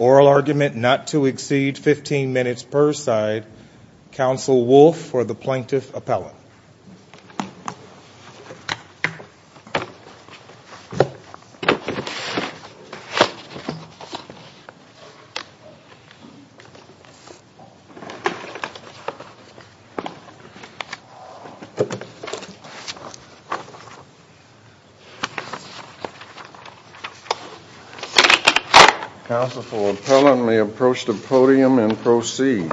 Oral argument not to exceed 15 minutes per side, Counsel Wolf for the Plaintiff Appellant. Counsel for the Appellant may approach the podium and proceed.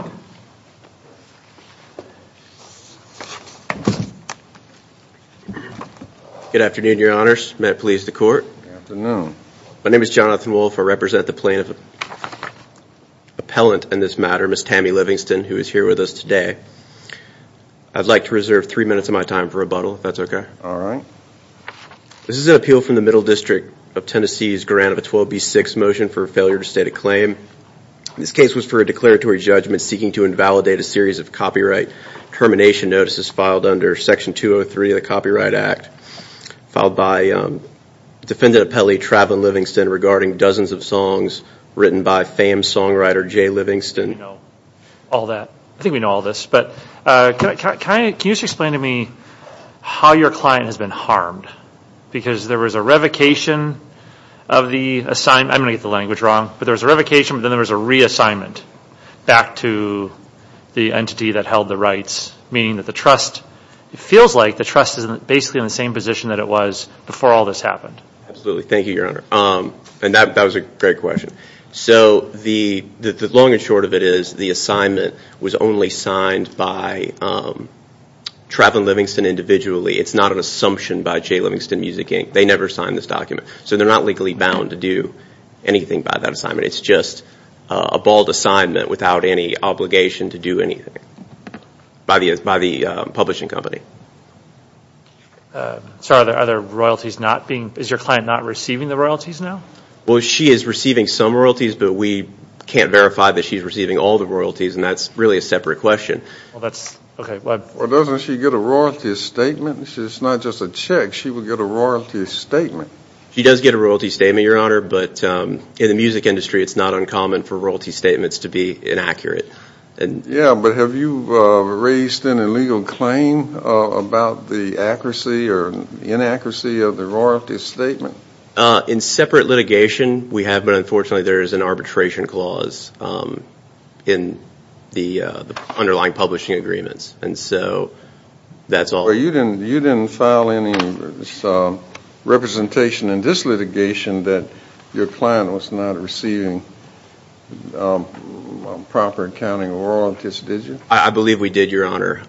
Good afternoon, Your Honors. May it please the Court? Good afternoon. My name is Jonathan Wolf. I represent the Plaintiff Appellant in this matter, Ms. Tammy Livingston, who is here with us today. I'd like to reserve three minutes of my time for rebuttal, if that's okay. All right. This is an appeal from the Middle District of Tennessee's grant of a 12B6 motion for failure to state a claim. This case was for a declaratory judgment seeking to invalidate a series of copyright termination notices filed under Section 203 of the Copyright Act, filed by Defendant Appellee Traven Livingston, regarding dozens of songs written by famed songwriter Jay Livingston. We know all that. I think we know all this. But can you just explain to me how your client has been harmed? Because there was a revocation of the assignment. I'm going to get the language wrong. But there was a revocation, but then there was a reassignment back to the entity that held the rights, meaning that the trust, it feels like the trust is basically in the same position that it was before all this happened. Absolutely. Thank you, Your Honor. And that was a great question. So the long and short of it is the assignment was only signed by Traven Livingston individually. It's not an assumption by Jay Livingston Music, Inc. They never signed this document. So they're not legally bound to do anything by that assignment. It's just a bald assignment without any obligation to do anything by the publishing company. Sir, are there royalties not being, is your client not receiving the royalties now? Well, she is receiving some royalties, but we can't verify that she's receiving all the royalties, and that's really a separate question. Well, doesn't she get a royalty statement? It's not just a check. She would get a royalty statement. She does get a royalty statement, Your Honor, but in the music industry it's not uncommon for royalty statements to be inaccurate. Yeah, but have you raised an illegal claim about the accuracy or inaccuracy of the royalty statement? In separate litigation we have, but unfortunately there is an arbitration clause in the underlying publishing agreements, and so that's all. Well, you didn't file any representation in this litigation that your client was not receiving proper accounting royalties, did you? I believe we did, Your Honor,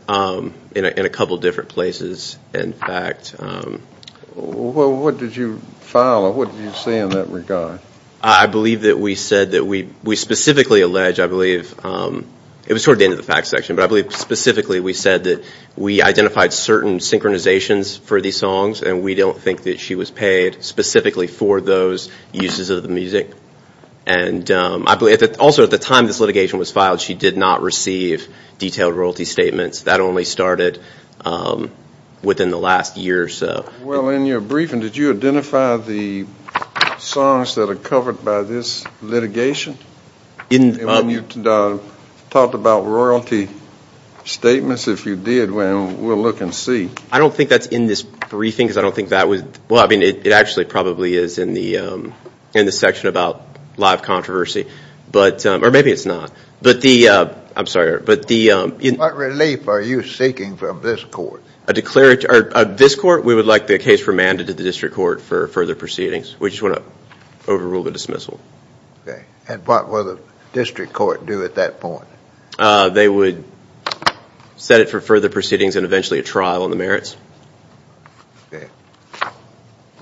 in a couple different places, in fact. Well, what did you file or what did you say in that regard? I believe that we said that we specifically allege, I believe, it was toward the end of the facts section, but I believe specifically we said that we identified certain synchronizations for these songs and we don't think that she was paid specifically for those uses of the music. Also, at the time this litigation was filed, she did not receive detailed royalty statements. That only started within the last year or so. Well, in your briefing, did you identify the songs that are covered by this litigation? And when you talked about royalty statements, if you did, we'll look and see. I don't think that's in this briefing because I don't think that was – well, I mean, it actually probably is in the section about live controversy, or maybe it's not. But the – I'm sorry, but the – What relief are you seeking from this court? This court, we would like the case remanded to the district court for further proceedings. We just want to overrule the dismissal. Okay. And what will the district court do at that point? They would set it for further proceedings and eventually a trial on the merits. Okay.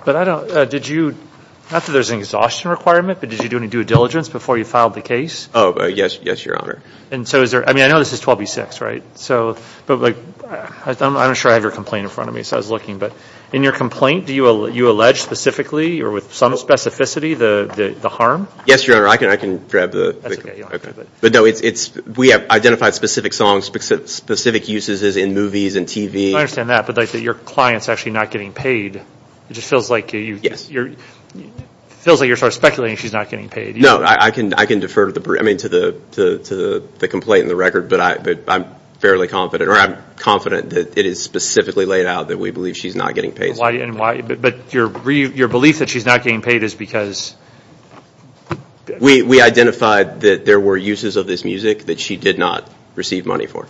But I don't – did you – not that there's an exhaustion requirement, but did you do any due diligence before you filed the case? Oh, yes, Your Honor. And so is there – I mean, I know this is 12B-6, right? So – but I'm not sure I have your complaint in front of me, so I was looking. But in your complaint, do you allege specifically or with some specificity the harm? Yes, Your Honor. I can grab the – That's okay. You don't have to grab it. But, no, it's – we have identified specific songs, specific uses in movies and TV. I understand that, but your client's actually not getting paid. It just feels like you – Yes. It feels like you're sort of speculating she's not getting paid. No, I can defer to the – I mean, to the complaint and the record, but I'm fairly confident – or I'm confident that it is specifically laid out that we believe she's not getting paid. But your belief that she's not getting paid is because – We identified that there were uses of this music that she did not receive money for.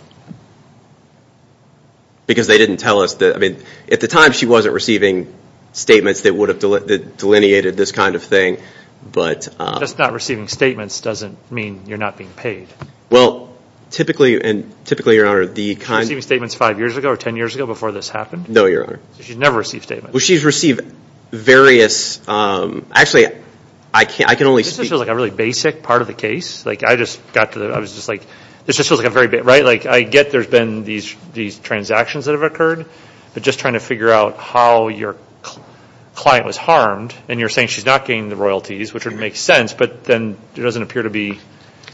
Because they didn't tell us that – I mean, at the time, she wasn't receiving statements that would have delineated this kind of thing, but – Just not receiving statements doesn't mean you're not being paid. Well, typically – and typically, Your Honor, the kind – She was receiving statements five years ago or ten years ago before this happened? No, Your Honor. She's never received statements. Well, she's received various – actually, I can only speak – This just feels like a really basic part of the case. Like, I just got to the – I was just like – this just feels like a very – right? Like, I get there's been these transactions that have occurred, but just trying to figure out how your client was harmed, and you're saying she's not getting the royalties, which would make sense, but then it doesn't appear to be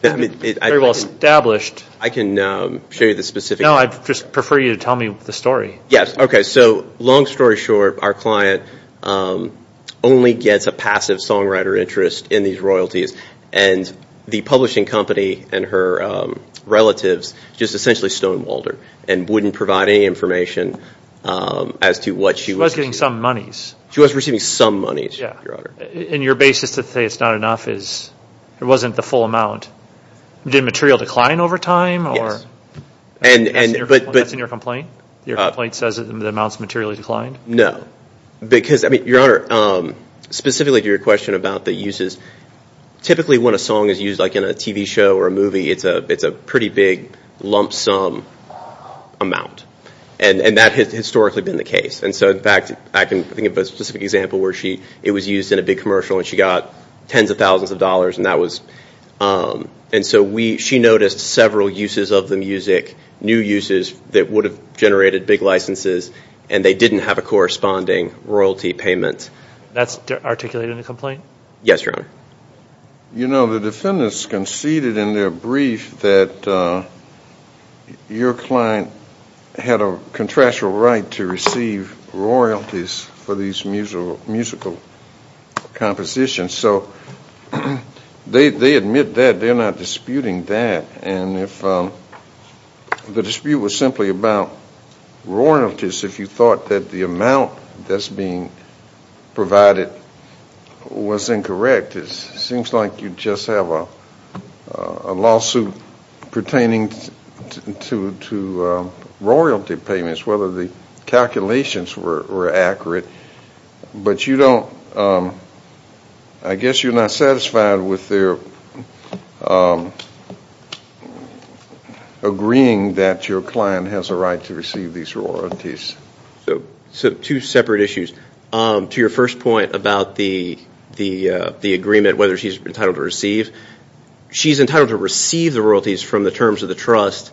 very well established. I can show you the specific – No, I'd just prefer you to tell me the story. Yes, okay, so long story short, our client only gets a passive songwriter interest in these royalties, and the publishing company and her relatives just essentially stonewalled her and wouldn't provide any information as to what she was – She was getting some monies. She was receiving some monies, Your Honor. Yeah, and your basis to say it's not enough is it wasn't the full amount. Did material decline over time, or – Yes, and – That's in your complaint? Your complaint says the amount's materially declined? No, because – I mean, Your Honor, specifically to your question about the uses, typically when a song is used like in a TV show or a movie, it's a pretty big lump sum amount, and that has historically been the case. And so, in fact, I can think of a specific example where she – it was used in a big commercial, and she got tens of thousands of dollars, and that was – and so she noticed several uses of the music, new uses that would have generated big licenses, and they didn't have a corresponding royalty payment. That's articulated in the complaint? Yes, Your Honor. You know, the defendants conceded in their brief that your client had a contractual right to receive royalties for these musical compositions. So they admit that. They're not disputing that. And if the dispute was simply about royalties, if you thought that the amount that's being provided was incorrect, it seems like you just have a lawsuit pertaining to royalty payments, whether the calculations were accurate. But you don't – I guess you're not satisfied with their agreeing that your client has a right to receive these royalties. So two separate issues. To your first point about the agreement, whether she's entitled to receive, she's entitled to receive the royalties from the terms of the trust,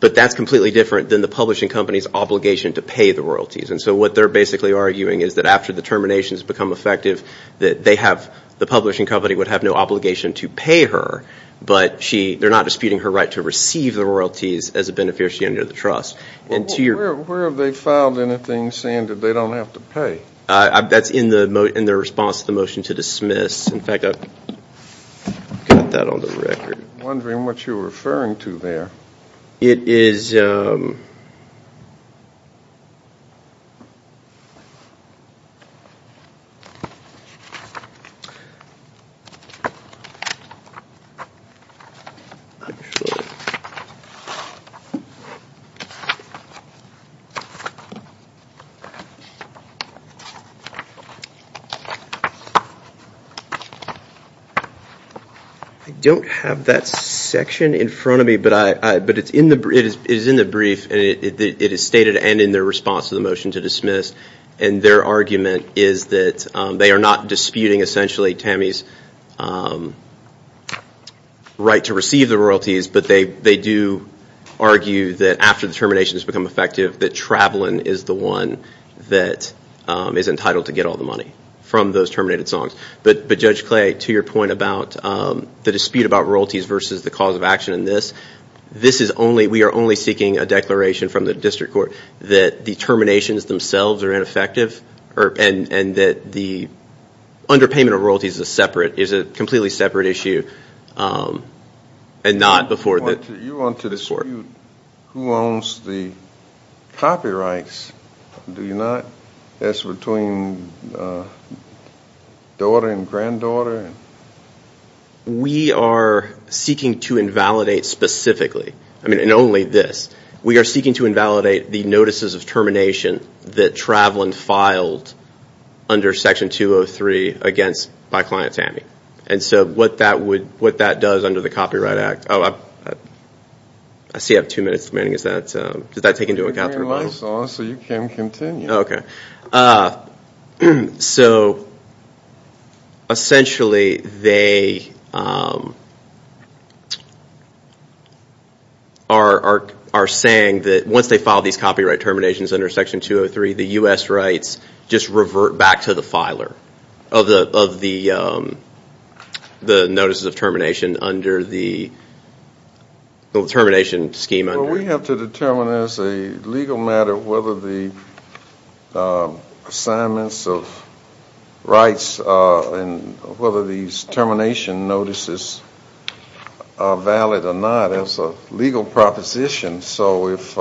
but that's completely different than the publishing company's obligation to pay the royalties. And so what they're basically arguing is that after the termination has become effective, that they have – the publishing company would have no obligation to pay her, but they're not disputing her right to receive the royalties as a beneficiary of the trust. Where have they filed anything saying that they don't have to pay? That's in their response to the motion to dismiss. In fact, I've got that on the record. I'm wondering what you're referring to there. It is – I'm not sure. I don't have that section in front of me, but it is in the brief, and it is stated and in their response to the motion to dismiss, and their argument is that they are not disputing, essentially, Tammy's right to receive the royalties, but they do argue that after the termination has become effective, that Travelin is the one that is entitled to get all the money from those terminated songs. But Judge Clay, to your point about the dispute about royalties versus the cause of action in this, this is only – we are only seeking a declaration from the district court that the terminations themselves are ineffective and that the underpayment of royalties is a separate – is a completely separate issue and not before the court. You want to dispute who owns the copyrights, do you not? That's between daughter and granddaughter. We are seeking to invalidate specifically, and only this. We are seeking to invalidate the notices of termination that Travelin filed under section 203 against – by client Tammy. And so what that would – what that does under the Copyright Act – oh, I see you have two minutes remaining. Is that – does that take into account everybody? Bring your lights on so you can continue. Okay. So essentially they are saying that once they file these copyright terminations under section 203, the U.S. rights just revert back to the filer of the notices of termination under the termination scheme. Well, we have to determine as a legal matter whether the assignments of rights and whether these termination notices are valid or not as a legal proposition. So if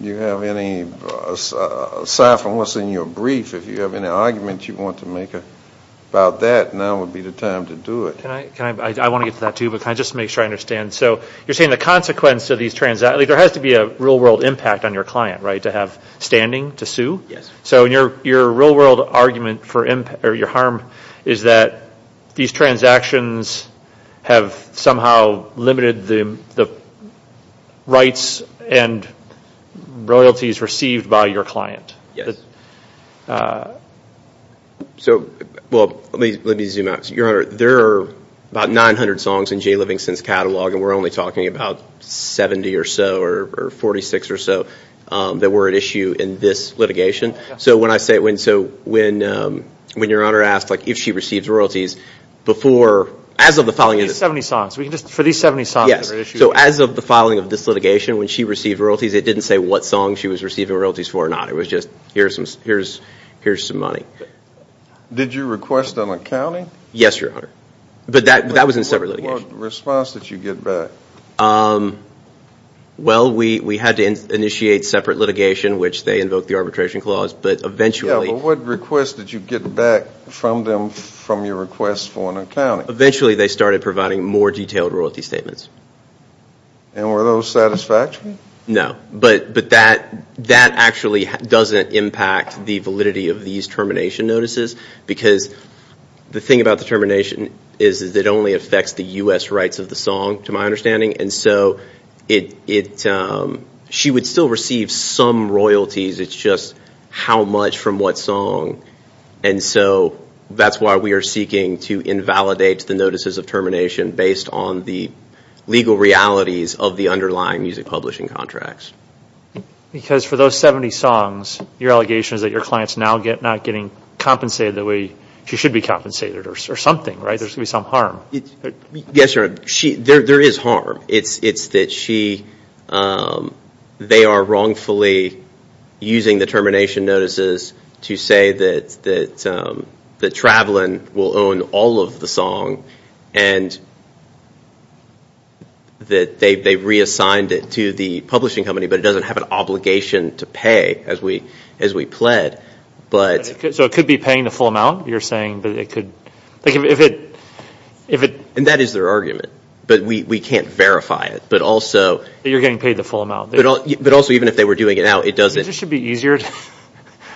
you have any – aside from what's in your brief, if you have any argument you want to make about that, now would be the time to do it. Can I – I want to get to that too, but can I just make sure I understand? So you're saying the consequence of these – there has to be a real-world impact on your client, right, to have standing to sue? Yes. So your real-world argument for your harm is that these transactions have somehow limited the rights and royalties received by your client? So – well, let me zoom out. Your Honor, there are about 900 songs in Jay Livingston's catalog, and we're only talking about 70 or so or 46 or so that were at issue in this litigation. So when I say – so when your Honor asked, like, if she receives royalties before – as of the filing – For these 70 songs. Yes. So as of the filing of this litigation, when she received royalties, it didn't say what songs she was receiving royalties for or not. It was just here's some money. Did you request an accounting? Yes, Your Honor. But that was in separate litigation. What response did you get back? Well, we had to initiate separate litigation, which they invoked the arbitration clause, but eventually – Yeah, but what request did you get back from them from your request for an accounting? Eventually, they started providing more detailed royalty statements. And were those satisfactory? No, but that actually doesn't impact the validity of these termination notices because the thing about the termination is that it only affects the U.S. rights of the song, to my understanding. And so it – she would still receive some royalties. It's just how much from what song. And so that's why we are seeking to invalidate the notices of termination based on the legal realities of the underlying music publishing contracts. Because for those 70 songs, your allegation is that your client is now not getting compensated the way she should be compensated or something, right? There's going to be some harm. Yes, Your Honor. There is harm. It's that she – they are wrongfully using the termination notices to say that Travelin will own all of the song and that they've reassigned it to the publishing company, but it doesn't have an obligation to pay as we pled. So it could be paying the full amount, you're saying, but it could – And that is their argument, but we can't verify it. But also – You're getting paid the full amount. But also, even if they were doing it out, it doesn't – It just should be easier –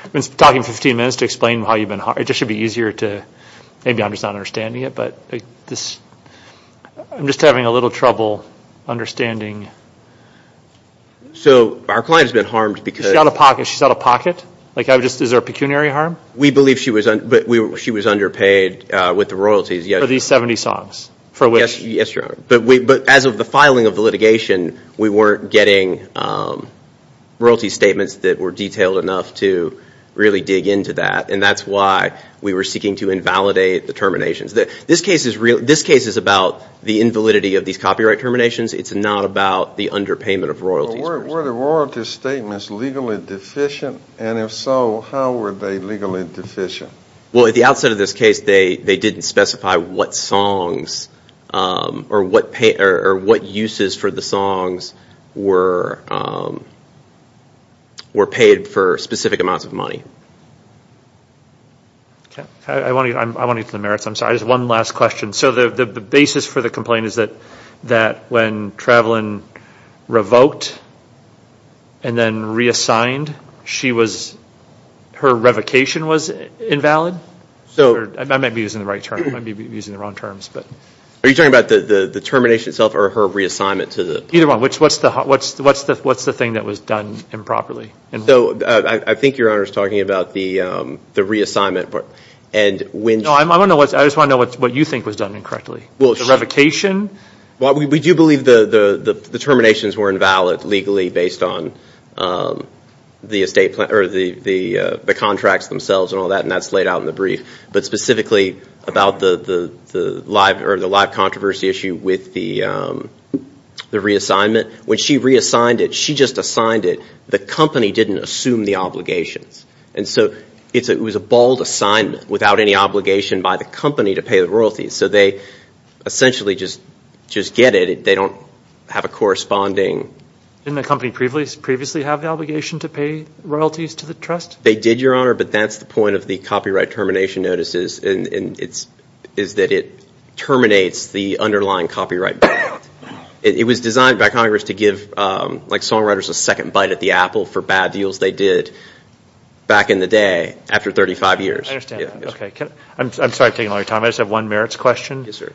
I've been talking for 15 minutes to explain how you've been – It just should be easier to – maybe I'm just not understanding it, but this – I'm just having a little trouble understanding. So our client has been harmed because – She's out of pocket. Is there a pecuniary harm? We believe she was underpaid with the royalties. For these 70 songs? Yes, Your Honor. But as of the filing of the litigation, we weren't getting royalty statements that were detailed enough to really dig into that, and that's why we were seeking to invalidate the terminations. This case is about the invalidity of these copyright terminations. It's not about the underpayment of royalties. Were the royalty statements legally deficient? And if so, how were they legally deficient? Well, at the outset of this case, they didn't specify what songs – or what uses for the songs were paid for specific amounts of money. I want to get to the merits. I'm sorry, just one last question. So the basis for the complaint is that when Travelyn revoked and then reassigned, she was – her revocation was invalid? I might be using the right term. I might be using the wrong terms. Are you talking about the termination itself or her reassignment to the – Either one. What's the thing that was done improperly? So I think Your Honor is talking about the reassignment. No, I just want to know what you think was done incorrectly. The revocation? Well, we do believe the terminations were invalid legally based on the estate – or the contracts themselves and all that, and that's laid out in the brief. But specifically about the live controversy issue with the reassignment, when she reassigned it, she just assigned it. The company didn't assume the obligations. And so it was a bald assignment without any obligation by the company to pay the royalties. So they essentially just get it. They don't have a corresponding – Didn't the company previously have the obligation to pay royalties to the trust? They did, Your Honor, but that's the point of the copyright termination notices, is that it terminates the underlying copyright. It was designed by Congress to give songwriters a second bite at the apple for bad deals they did back in the day after 35 years. I understand. I'm sorry for taking all your time. I just have one merits question. Yes, sir.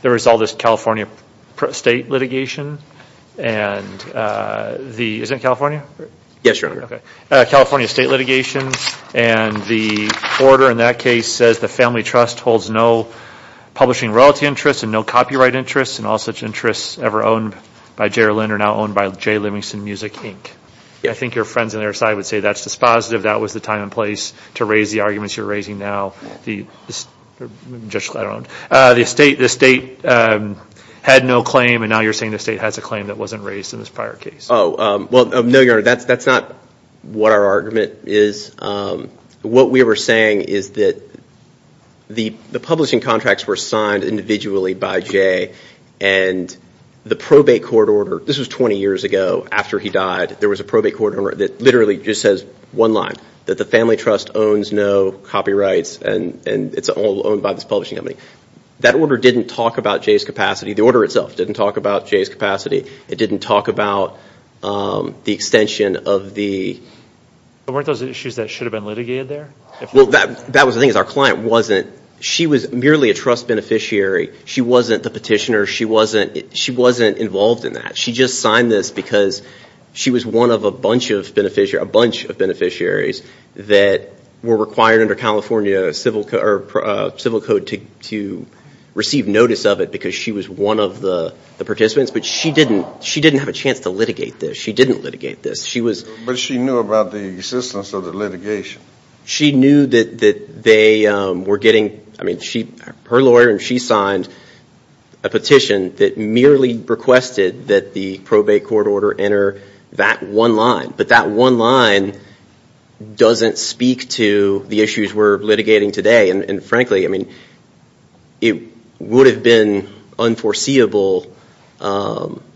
The result is California state litigation and the – isn't it California? Yes, Your Honor. Okay. California state litigation, and the order in that case says the family trust holds no publishing royalty interests and no copyright interests, and all such interests ever owned by J.R. Linder are now owned by J. Livingston Music, Inc. I think your friends on their side would say that's dispositive. That was the time and place to raise the arguments you're raising now. The state had no claim, and now you're saying the state has a claim that wasn't raised in this prior case. Oh, well, no, Your Honor. That's not what our argument is. What we were saying is that the publishing contracts were signed individually by Jay, and the probate court order – this was 20 years ago after he died. There was a probate court order that literally just says one line, that the family trust owns no copyrights, and it's all owned by this publishing company. That order didn't talk about Jay's capacity. The order itself didn't talk about Jay's capacity. It didn't talk about the extension of the – Weren't those issues that should have been litigated there? Well, that was the thing is our client wasn't – she was merely a trust beneficiary. She wasn't the petitioner. She wasn't involved in that. She just signed this because she was one of a bunch of beneficiaries that were required under California civil code to receive notice of it because she was one of the participants. But she didn't have a chance to litigate this. She didn't litigate this. But she knew about the existence of the litigation. She knew that they were getting – I mean, her lawyer and she signed a petition that merely requested that the probate court order enter that one line. But that one line doesn't speak to the issues we're litigating today. And frankly, I mean, it would have been unforeseeable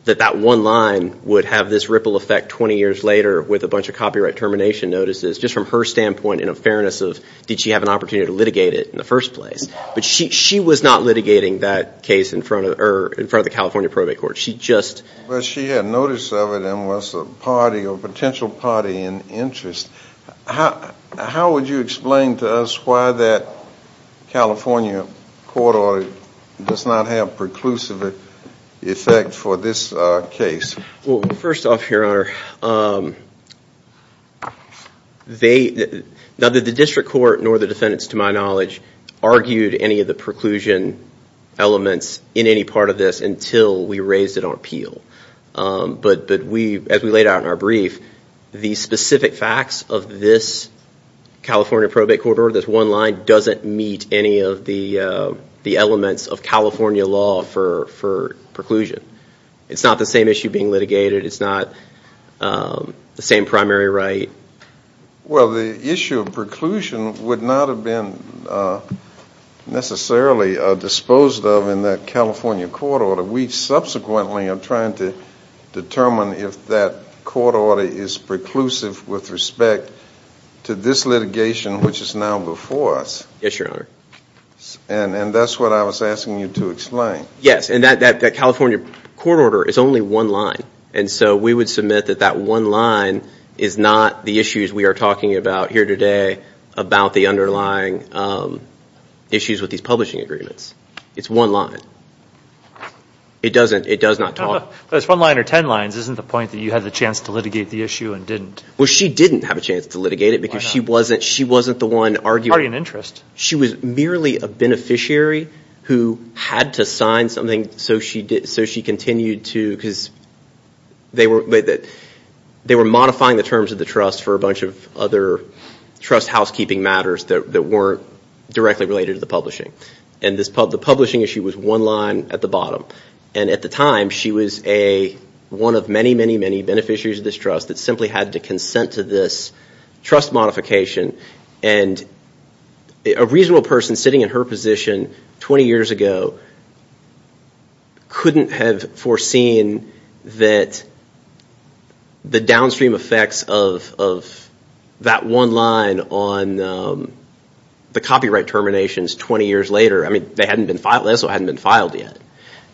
that that one line would have this ripple effect 20 years later with a bunch of copyright termination notices just from her standpoint in a fairness of did she have an opportunity to litigate it in the first place. But she was not litigating that case in front of the California probate court. She just – But she had notice of it and was a party or potential party in interest. How would you explain to us why that California court order does not have preclusive effect for this case? Well, first off, Your Honor, they – neither the district court nor the defendants to my knowledge argued any of the preclusion elements in any part of this until we raised it on appeal. But we – as we laid out in our brief, the specific facts of this California probate court order, this one line doesn't meet any of the elements of California law for preclusion. It's not the same issue being litigated. It's not the same primary right. Well, the issue of preclusion would not have been necessarily disposed of in that California court order. We subsequently are trying to determine if that court order is preclusive with respect to this litigation, which is now before us. And that's what I was asking you to explain. Yes, and that California court order is only one line. And so we would submit that that one line is not the issues we are talking about here today about the underlying issues with these publishing agreements. It's one line. It doesn't – it does not talk – It's one line or ten lines. Isn't the point that you had the chance to litigate the issue and didn't? Well, she didn't have a chance to litigate it because she wasn't – Why not? She wasn't the one arguing. It's already an interest. She was merely a beneficiary who had to sign something so she continued to – because they were modifying the terms of the trust for a bunch of other trust housekeeping matters that weren't directly related to the publishing. And the publishing issue was one line at the bottom. And at the time, she was a – one of many, many, many beneficiaries of this trust that simply had to consent to this trust modification. And a reasonable person sitting in her position 20 years ago couldn't have foreseen that the downstream effects of that one line on the copyright terminations 20 years later – I mean, they hadn't been filed. They also hadn't been filed yet.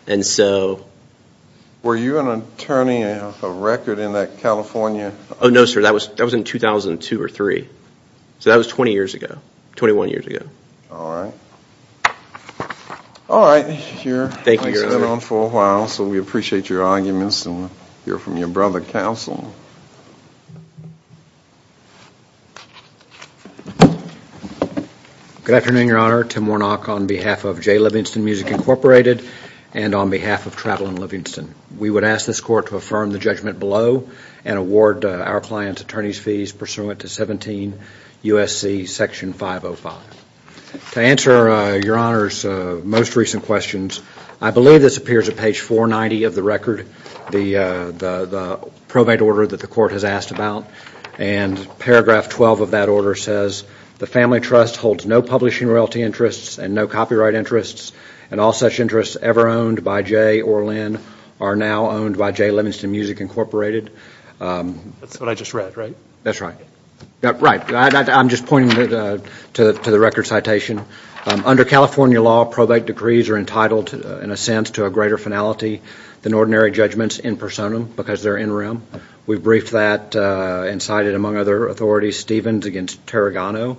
And so – Were you an attorney of record in that California – Oh, no, sir. That was in 2002 or 2003. So that was 20 years ago, 21 years ago. All right. All right. Here. Thank you, sir. I've been on for a while, so we appreciate your arguments. Mr. Livingston, we'll hear from your brother, Counsel. Good afternoon, Your Honor. Tim Warnock on behalf of Jay Livingston Music Incorporated and on behalf of Travel and Livingston. We would ask this Court to affirm the judgment below and award our client's attorney's fees pursuant to 17 U.S.C. section 505. To answer Your Honor's most recent questions, I believe this appears at page 490 of the record, the probate order that the Court has asked about, and paragraph 12 of that order says, the Family Trust holds no publishing royalty interests and no copyright interests, and all such interests ever owned by Jay or Lynn are now owned by Jay Livingston Music Incorporated. That's what I just read, right? That's right. Right. I'm just pointing to the record citation. Under California law, probate decrees are entitled, in a sense, to a greater finality than ordinary judgments in personam because they're in rem. We've briefed that and cited it, among other authorities, Stevens v. Tarragono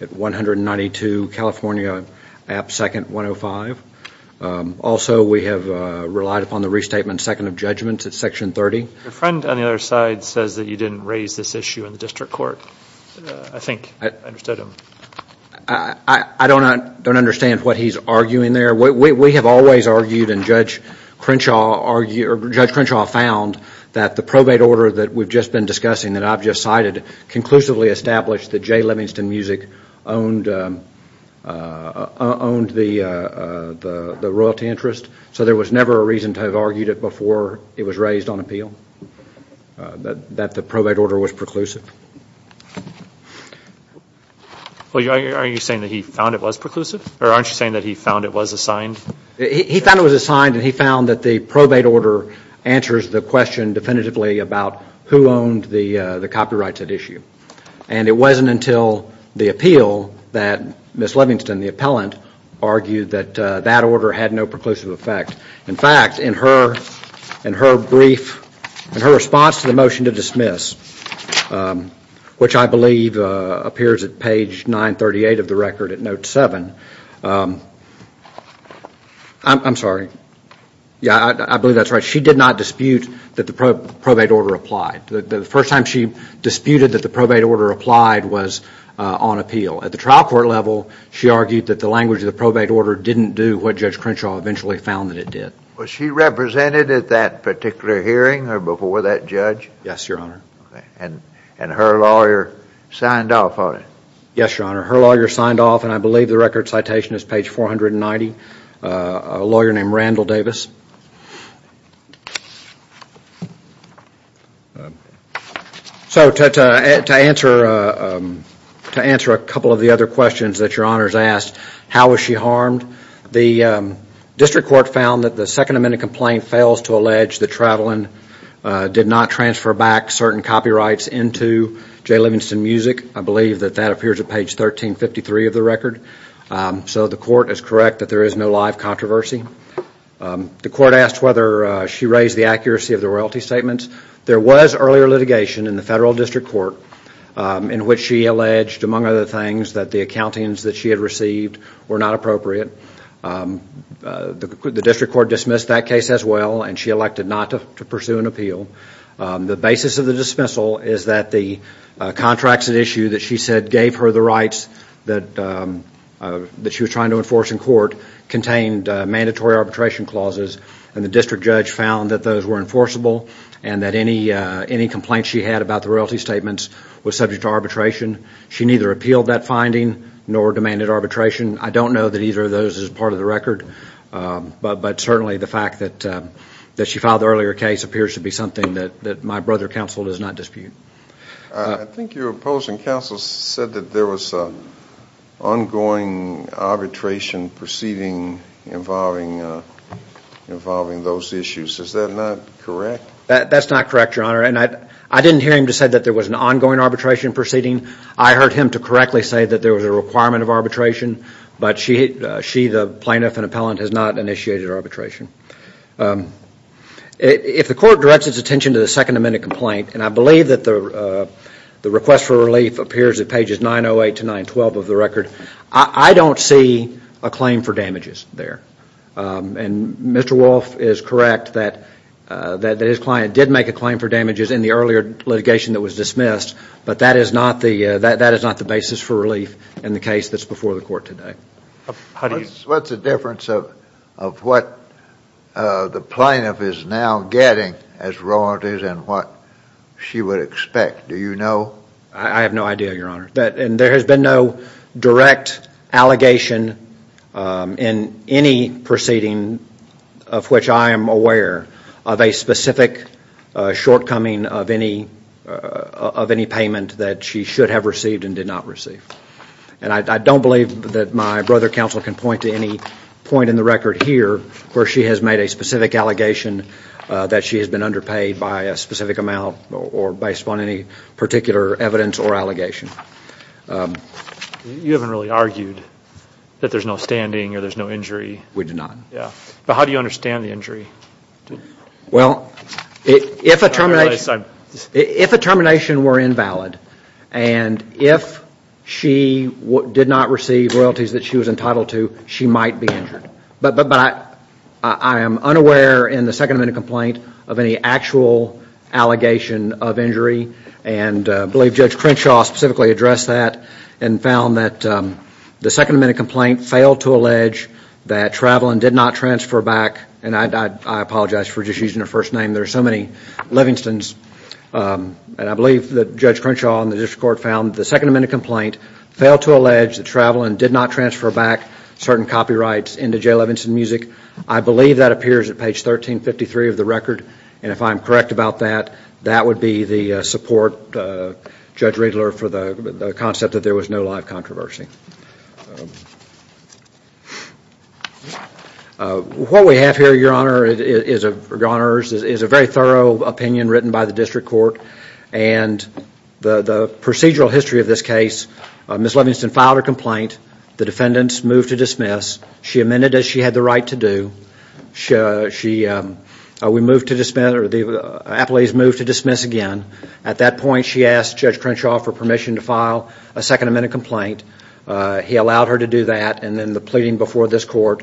at 192 California App 2nd 105. Also, we have relied upon the restatement second of judgments at section 30. Your friend on the other side says that you didn't raise this issue in the District Court. I think I understood him. I don't understand what he's arguing there. We have always argued, and Judge Crenshaw found, that the probate order that we've just been discussing, that I've just cited, conclusively established that Jay Livingston Music owned the royalty interest, so there was never a reason to have argued it before it was raised on appeal, that the probate order was preclusive. Are you saying that he found it was preclusive? Or aren't you saying that he found it was assigned? He found it was assigned, and he found that the probate order answers the question definitively about who owned the copyrights at issue. And it wasn't until the appeal that Ms. Livingston, the appellant, argued that that order had no preclusive effect. In fact, in her response to the motion to dismiss, which I believe appears at page 938 of the record at note 7, I'm sorry, I believe that's right, she did not dispute that the probate order applied. The first time she disputed that the probate order applied was on appeal. At the trial court level, she argued that the language of the probate order didn't do what Judge Crenshaw eventually found that it did. Was she represented at that particular hearing or before that judge? Yes, Your Honor. And her lawyer signed off on it? Yes, Your Honor. Her lawyer signed off, and I believe the record citation is page 490, a lawyer named Randall Davis. So to answer a couple of the other questions that Your Honor has asked, how was she harmed? The district court found that the Second Amendment complaint fails to allege that Travlin did not transfer back certain copyrights into Jay Livingston Music. I believe that that appears at page 1353 of the record. So the court is correct that there is no live controversy. The court asked whether she raised the accuracy of the royalty statements. There was earlier litigation in the federal district court in which she alleged, among other things, that the accountings that she had received were not appropriate. The district court dismissed that case as well, and she elected not to pursue an appeal. The basis of the dismissal is that the contracts at issue that she said gave her the rights that she was trying to enforce in court contained mandatory arbitration clauses, and the district judge found that those were enforceable and that any complaint she had about the royalty statements was subject to arbitration. She neither appealed that finding nor demanded arbitration. I don't know that either of those is part of the record, but certainly the fact that she filed the earlier case appears to be something that my brother counsel does not dispute. I think your opposing counsel said that there was an ongoing arbitration proceeding involving those issues. Is that not correct? That's not correct, Your Honor, and I didn't hear him to say that there was an ongoing arbitration proceeding. I heard him to correctly say that there was a requirement of arbitration, but she, the plaintiff and appellant, has not initiated arbitration. If the court directs its attention to the Second Amendment complaint, and I believe that the request for relief appears at pages 908 to 912 of the record, I don't see a claim for damages there, and Mr. Wolf is correct that his client did make a claim for damages in the earlier litigation that was dismissed, but that is not the basis for relief in the case that's before the court today. What's the difference of what the plaintiff is now getting as royalties and what she would expect? Do you know? I have no idea, Your Honor, and there has been no direct allegation in any proceeding of which I am aware of a specific shortcoming of any payment that she should have received and did not receive, and I don't believe that my brother counsel can point to any point in the record here where she has made a specific allegation that she has been underpaid by a specific amount or based upon any particular evidence or allegation. You haven't really argued that there's no standing or there's no injury. We do not. But how do you understand the injury? Well, if a termination were invalid and if she did not receive royalties that she was entitled to, she might be injured, but I am unaware in the Second Amendment complaint of any actual allegation of injury, and I believe Judge Crenshaw specifically addressed that and found that the Second Amendment complaint failed to allege that travel and did not transfer back, and I apologize for just using her first name. There are so many Livingstons, and I believe that Judge Crenshaw and the district court found the Second Amendment complaint failed to allege that travel and did not transfer back certain copyrights into J. Levinson Music. I believe that appears at page 1353 of the record, and if I'm correct about that, that would be the support, Judge Riedler, for the concept that there was no live controversy. What we have here, Your Honor, is a very thorough opinion written by the district court, and the procedural history of this case, Ms. Livingston filed her complaint. The defendants moved to dismiss. She amended as she had the right to do. The appellees moved to dismiss again. At that point, she asked Judge Crenshaw for permission to file a Second Amendment complaint. He allowed her to do that, and then the pleading before this court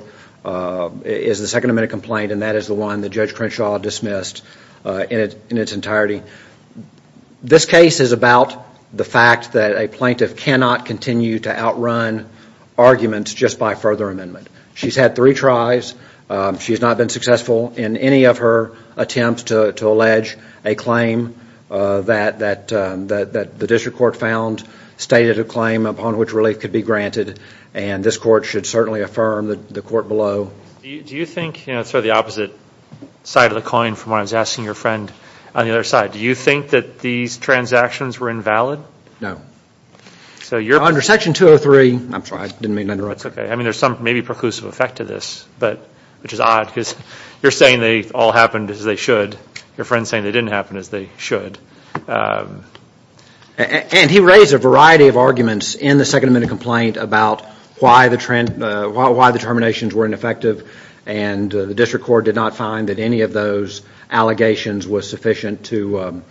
is the Second Amendment complaint, and that is the one that Judge Crenshaw dismissed in its entirety. This case is about the fact that a plaintiff cannot continue to outrun arguments just by further amendment. She's had three tries. She's not been successful in any of her attempts to allege a claim that the district court found stated a claim upon which relief could be granted, and this court should certainly affirm the court below. Do you think, sort of the opposite side of the coin from what I was asking your friend on the other side, do you think that these transactions were invalid? No. Under Section 203, I'm sorry, I didn't mean to interrupt. That's okay. I mean, there's some maybe preclusive effect to this, which is odd, because you're saying they all happened as they should. Your friend's saying they didn't happen as they should. And he raised a variety of arguments in the Second Amendment complaint about why the terminations were ineffective, and the district court did not find that any of those allegations was sufficient to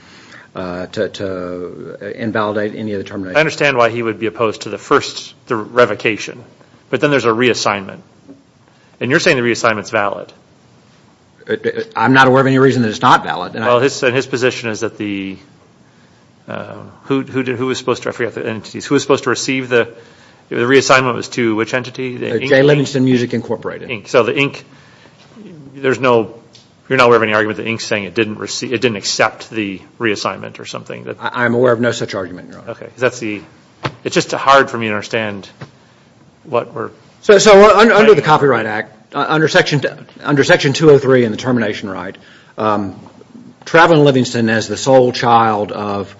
invalidate any of the terminations. I understand why he would be opposed to the first revocation, but then there's a reassignment. And you're saying the reassignment's valid. I'm not aware of any reason that it's not valid. Well, his position is that the – who was supposed to – I forget the entities. Who was supposed to receive the – the reassignment was to which entity? J. Livingston Music Incorporated. So the Inc. – there's no – you're not aware of any argument that the Inc. is saying it didn't accept the reassignment or something? I'm aware of no such argument, Your Honor. Okay, because that's the – it's just hard for me to understand what we're – So under the Copyright Act, under Section 203 and the termination right, Travelyn Livingston, as the sole child of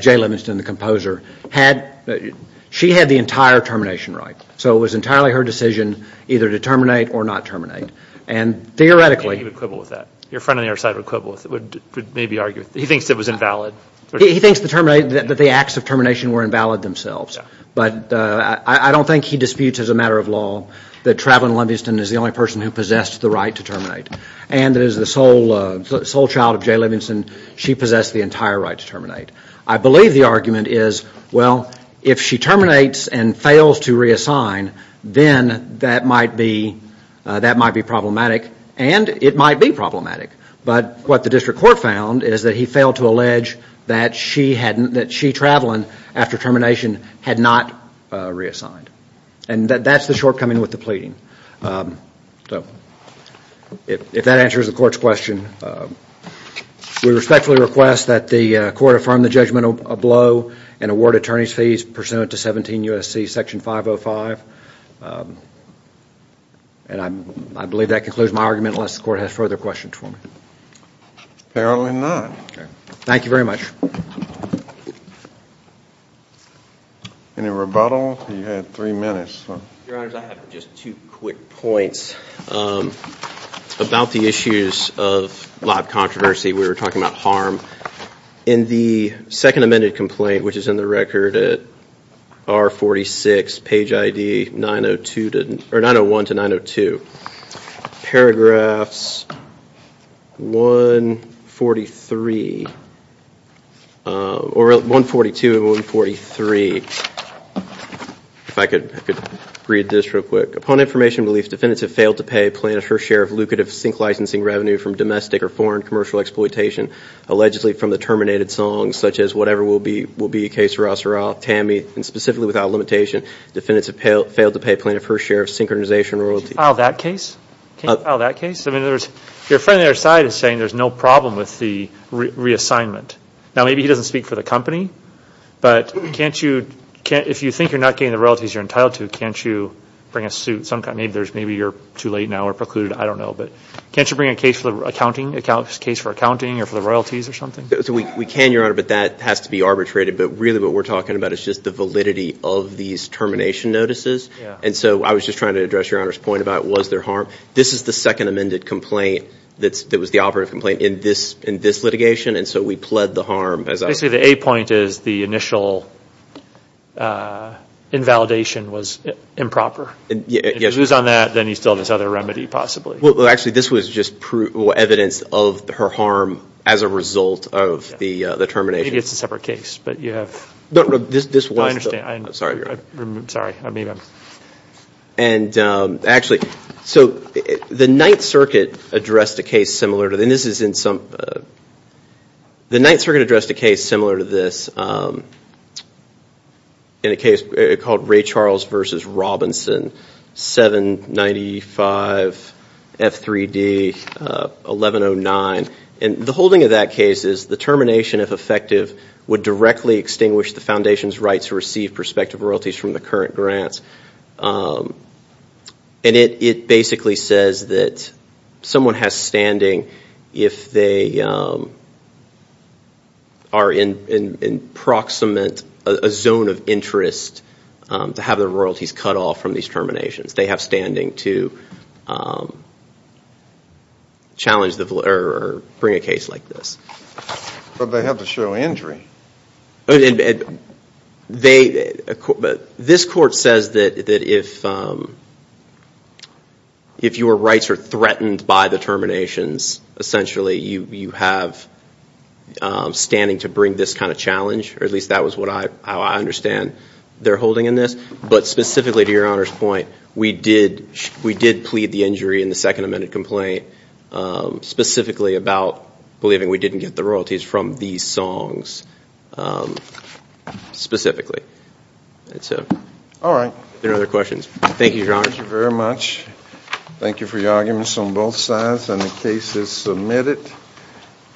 Jay Livingston, the composer, had – she had the entire termination right. So it was entirely her decision either to terminate or not terminate. And theoretically – And he would quibble with that. Your friend on the other side would quibble with it, would maybe argue – he thinks it was invalid. He thinks the termination – that the acts of termination were invalid themselves. But I don't think he disputes as a matter of law that Travelyn Livingston is the only person who possessed the right to terminate. And that as the sole child of Jay Livingston, she possessed the entire right to terminate. I believe the argument is, well, if she terminates and fails to reassign, then that might be problematic. And it might be problematic. But what the district court found is that he failed to allege that she hadn't – that she, Travelyn, after termination, had not reassigned. And that's the shortcoming with the pleading. So if that answers the court's question, we respectfully request that the court affirm the judgment below and award attorney's fees pursuant to 17 U.S.C. Section 505. And I believe that concludes my argument unless the court has further questions for me. Apparently not. Thank you very much. Any rebuttal? You had three minutes. Your Honors, I have just two quick points about the issues of live controversy. We were talking about harm. In the second amended complaint, which is in the record at R46, page ID 901 to 902, paragraphs 143 – or 142 and 143. If I could read this real quick. Upon information relief, defendants have failed to pay plaintiff her share of lucrative sink licensing revenue from domestic or foreign commercial exploitation, allegedly from the terminated song, such as whatever will be a case for Rosseroth, Tammy. And specifically without limitation, defendants have failed to pay plaintiff her share of synchronization royalties. Can you file that case? I mean, your friend on the other side is saying there's no problem with the reassignment. Now, maybe he doesn't speak for the company. But can't you – if you think you're not getting the royalties you're entitled to, can't you bring a suit? Maybe you're too late now or precluded. I don't know. But can't you bring a case for accounting, a case for accounting or for the royalties or something? We can, your Honor, but that has to be arbitrated. But really what we're talking about is just the validity of these termination notices. And so I was just trying to address your Honor's point about was there harm. This is the second amended complaint that was the operative complaint in this litigation. And so we pled the harm. Basically, the A point is the initial invalidation was improper. If he was on that, then he still has this other remedy possibly. Well, actually, this was just evidence of her harm as a result of the termination. Maybe it's a separate case, but you have – No, no, this was – I understand. Sorry. Sorry. And actually, so the Ninth Circuit addressed a case similar to this. The Ninth Circuit addressed a case similar to this in a case called Ray Charles v. Robinson, 795 F3D 1109. And the holding of that case is the termination, if effective, would directly extinguish the Foundation's right to receive prospective royalties from the current grants. And it basically says that someone has standing if they are in proximate – a zone of interest to have their royalties cut off from these terminations. They have standing to challenge the – or bring a case like this. But they have to show injury. And they – this court says that if your rights are threatened by the terminations, essentially you have standing to bring this kind of challenge, or at least that was what I understand they're holding in this. But specifically, to Your Honor's point, we did plead the injury in the second amended complaint specifically about believing we didn't get the royalties from these songs, specifically. All right. Any other questions? Thank you, Your Honor. Thank you very much. Thank you for your arguments on both sides. And the case is submitted.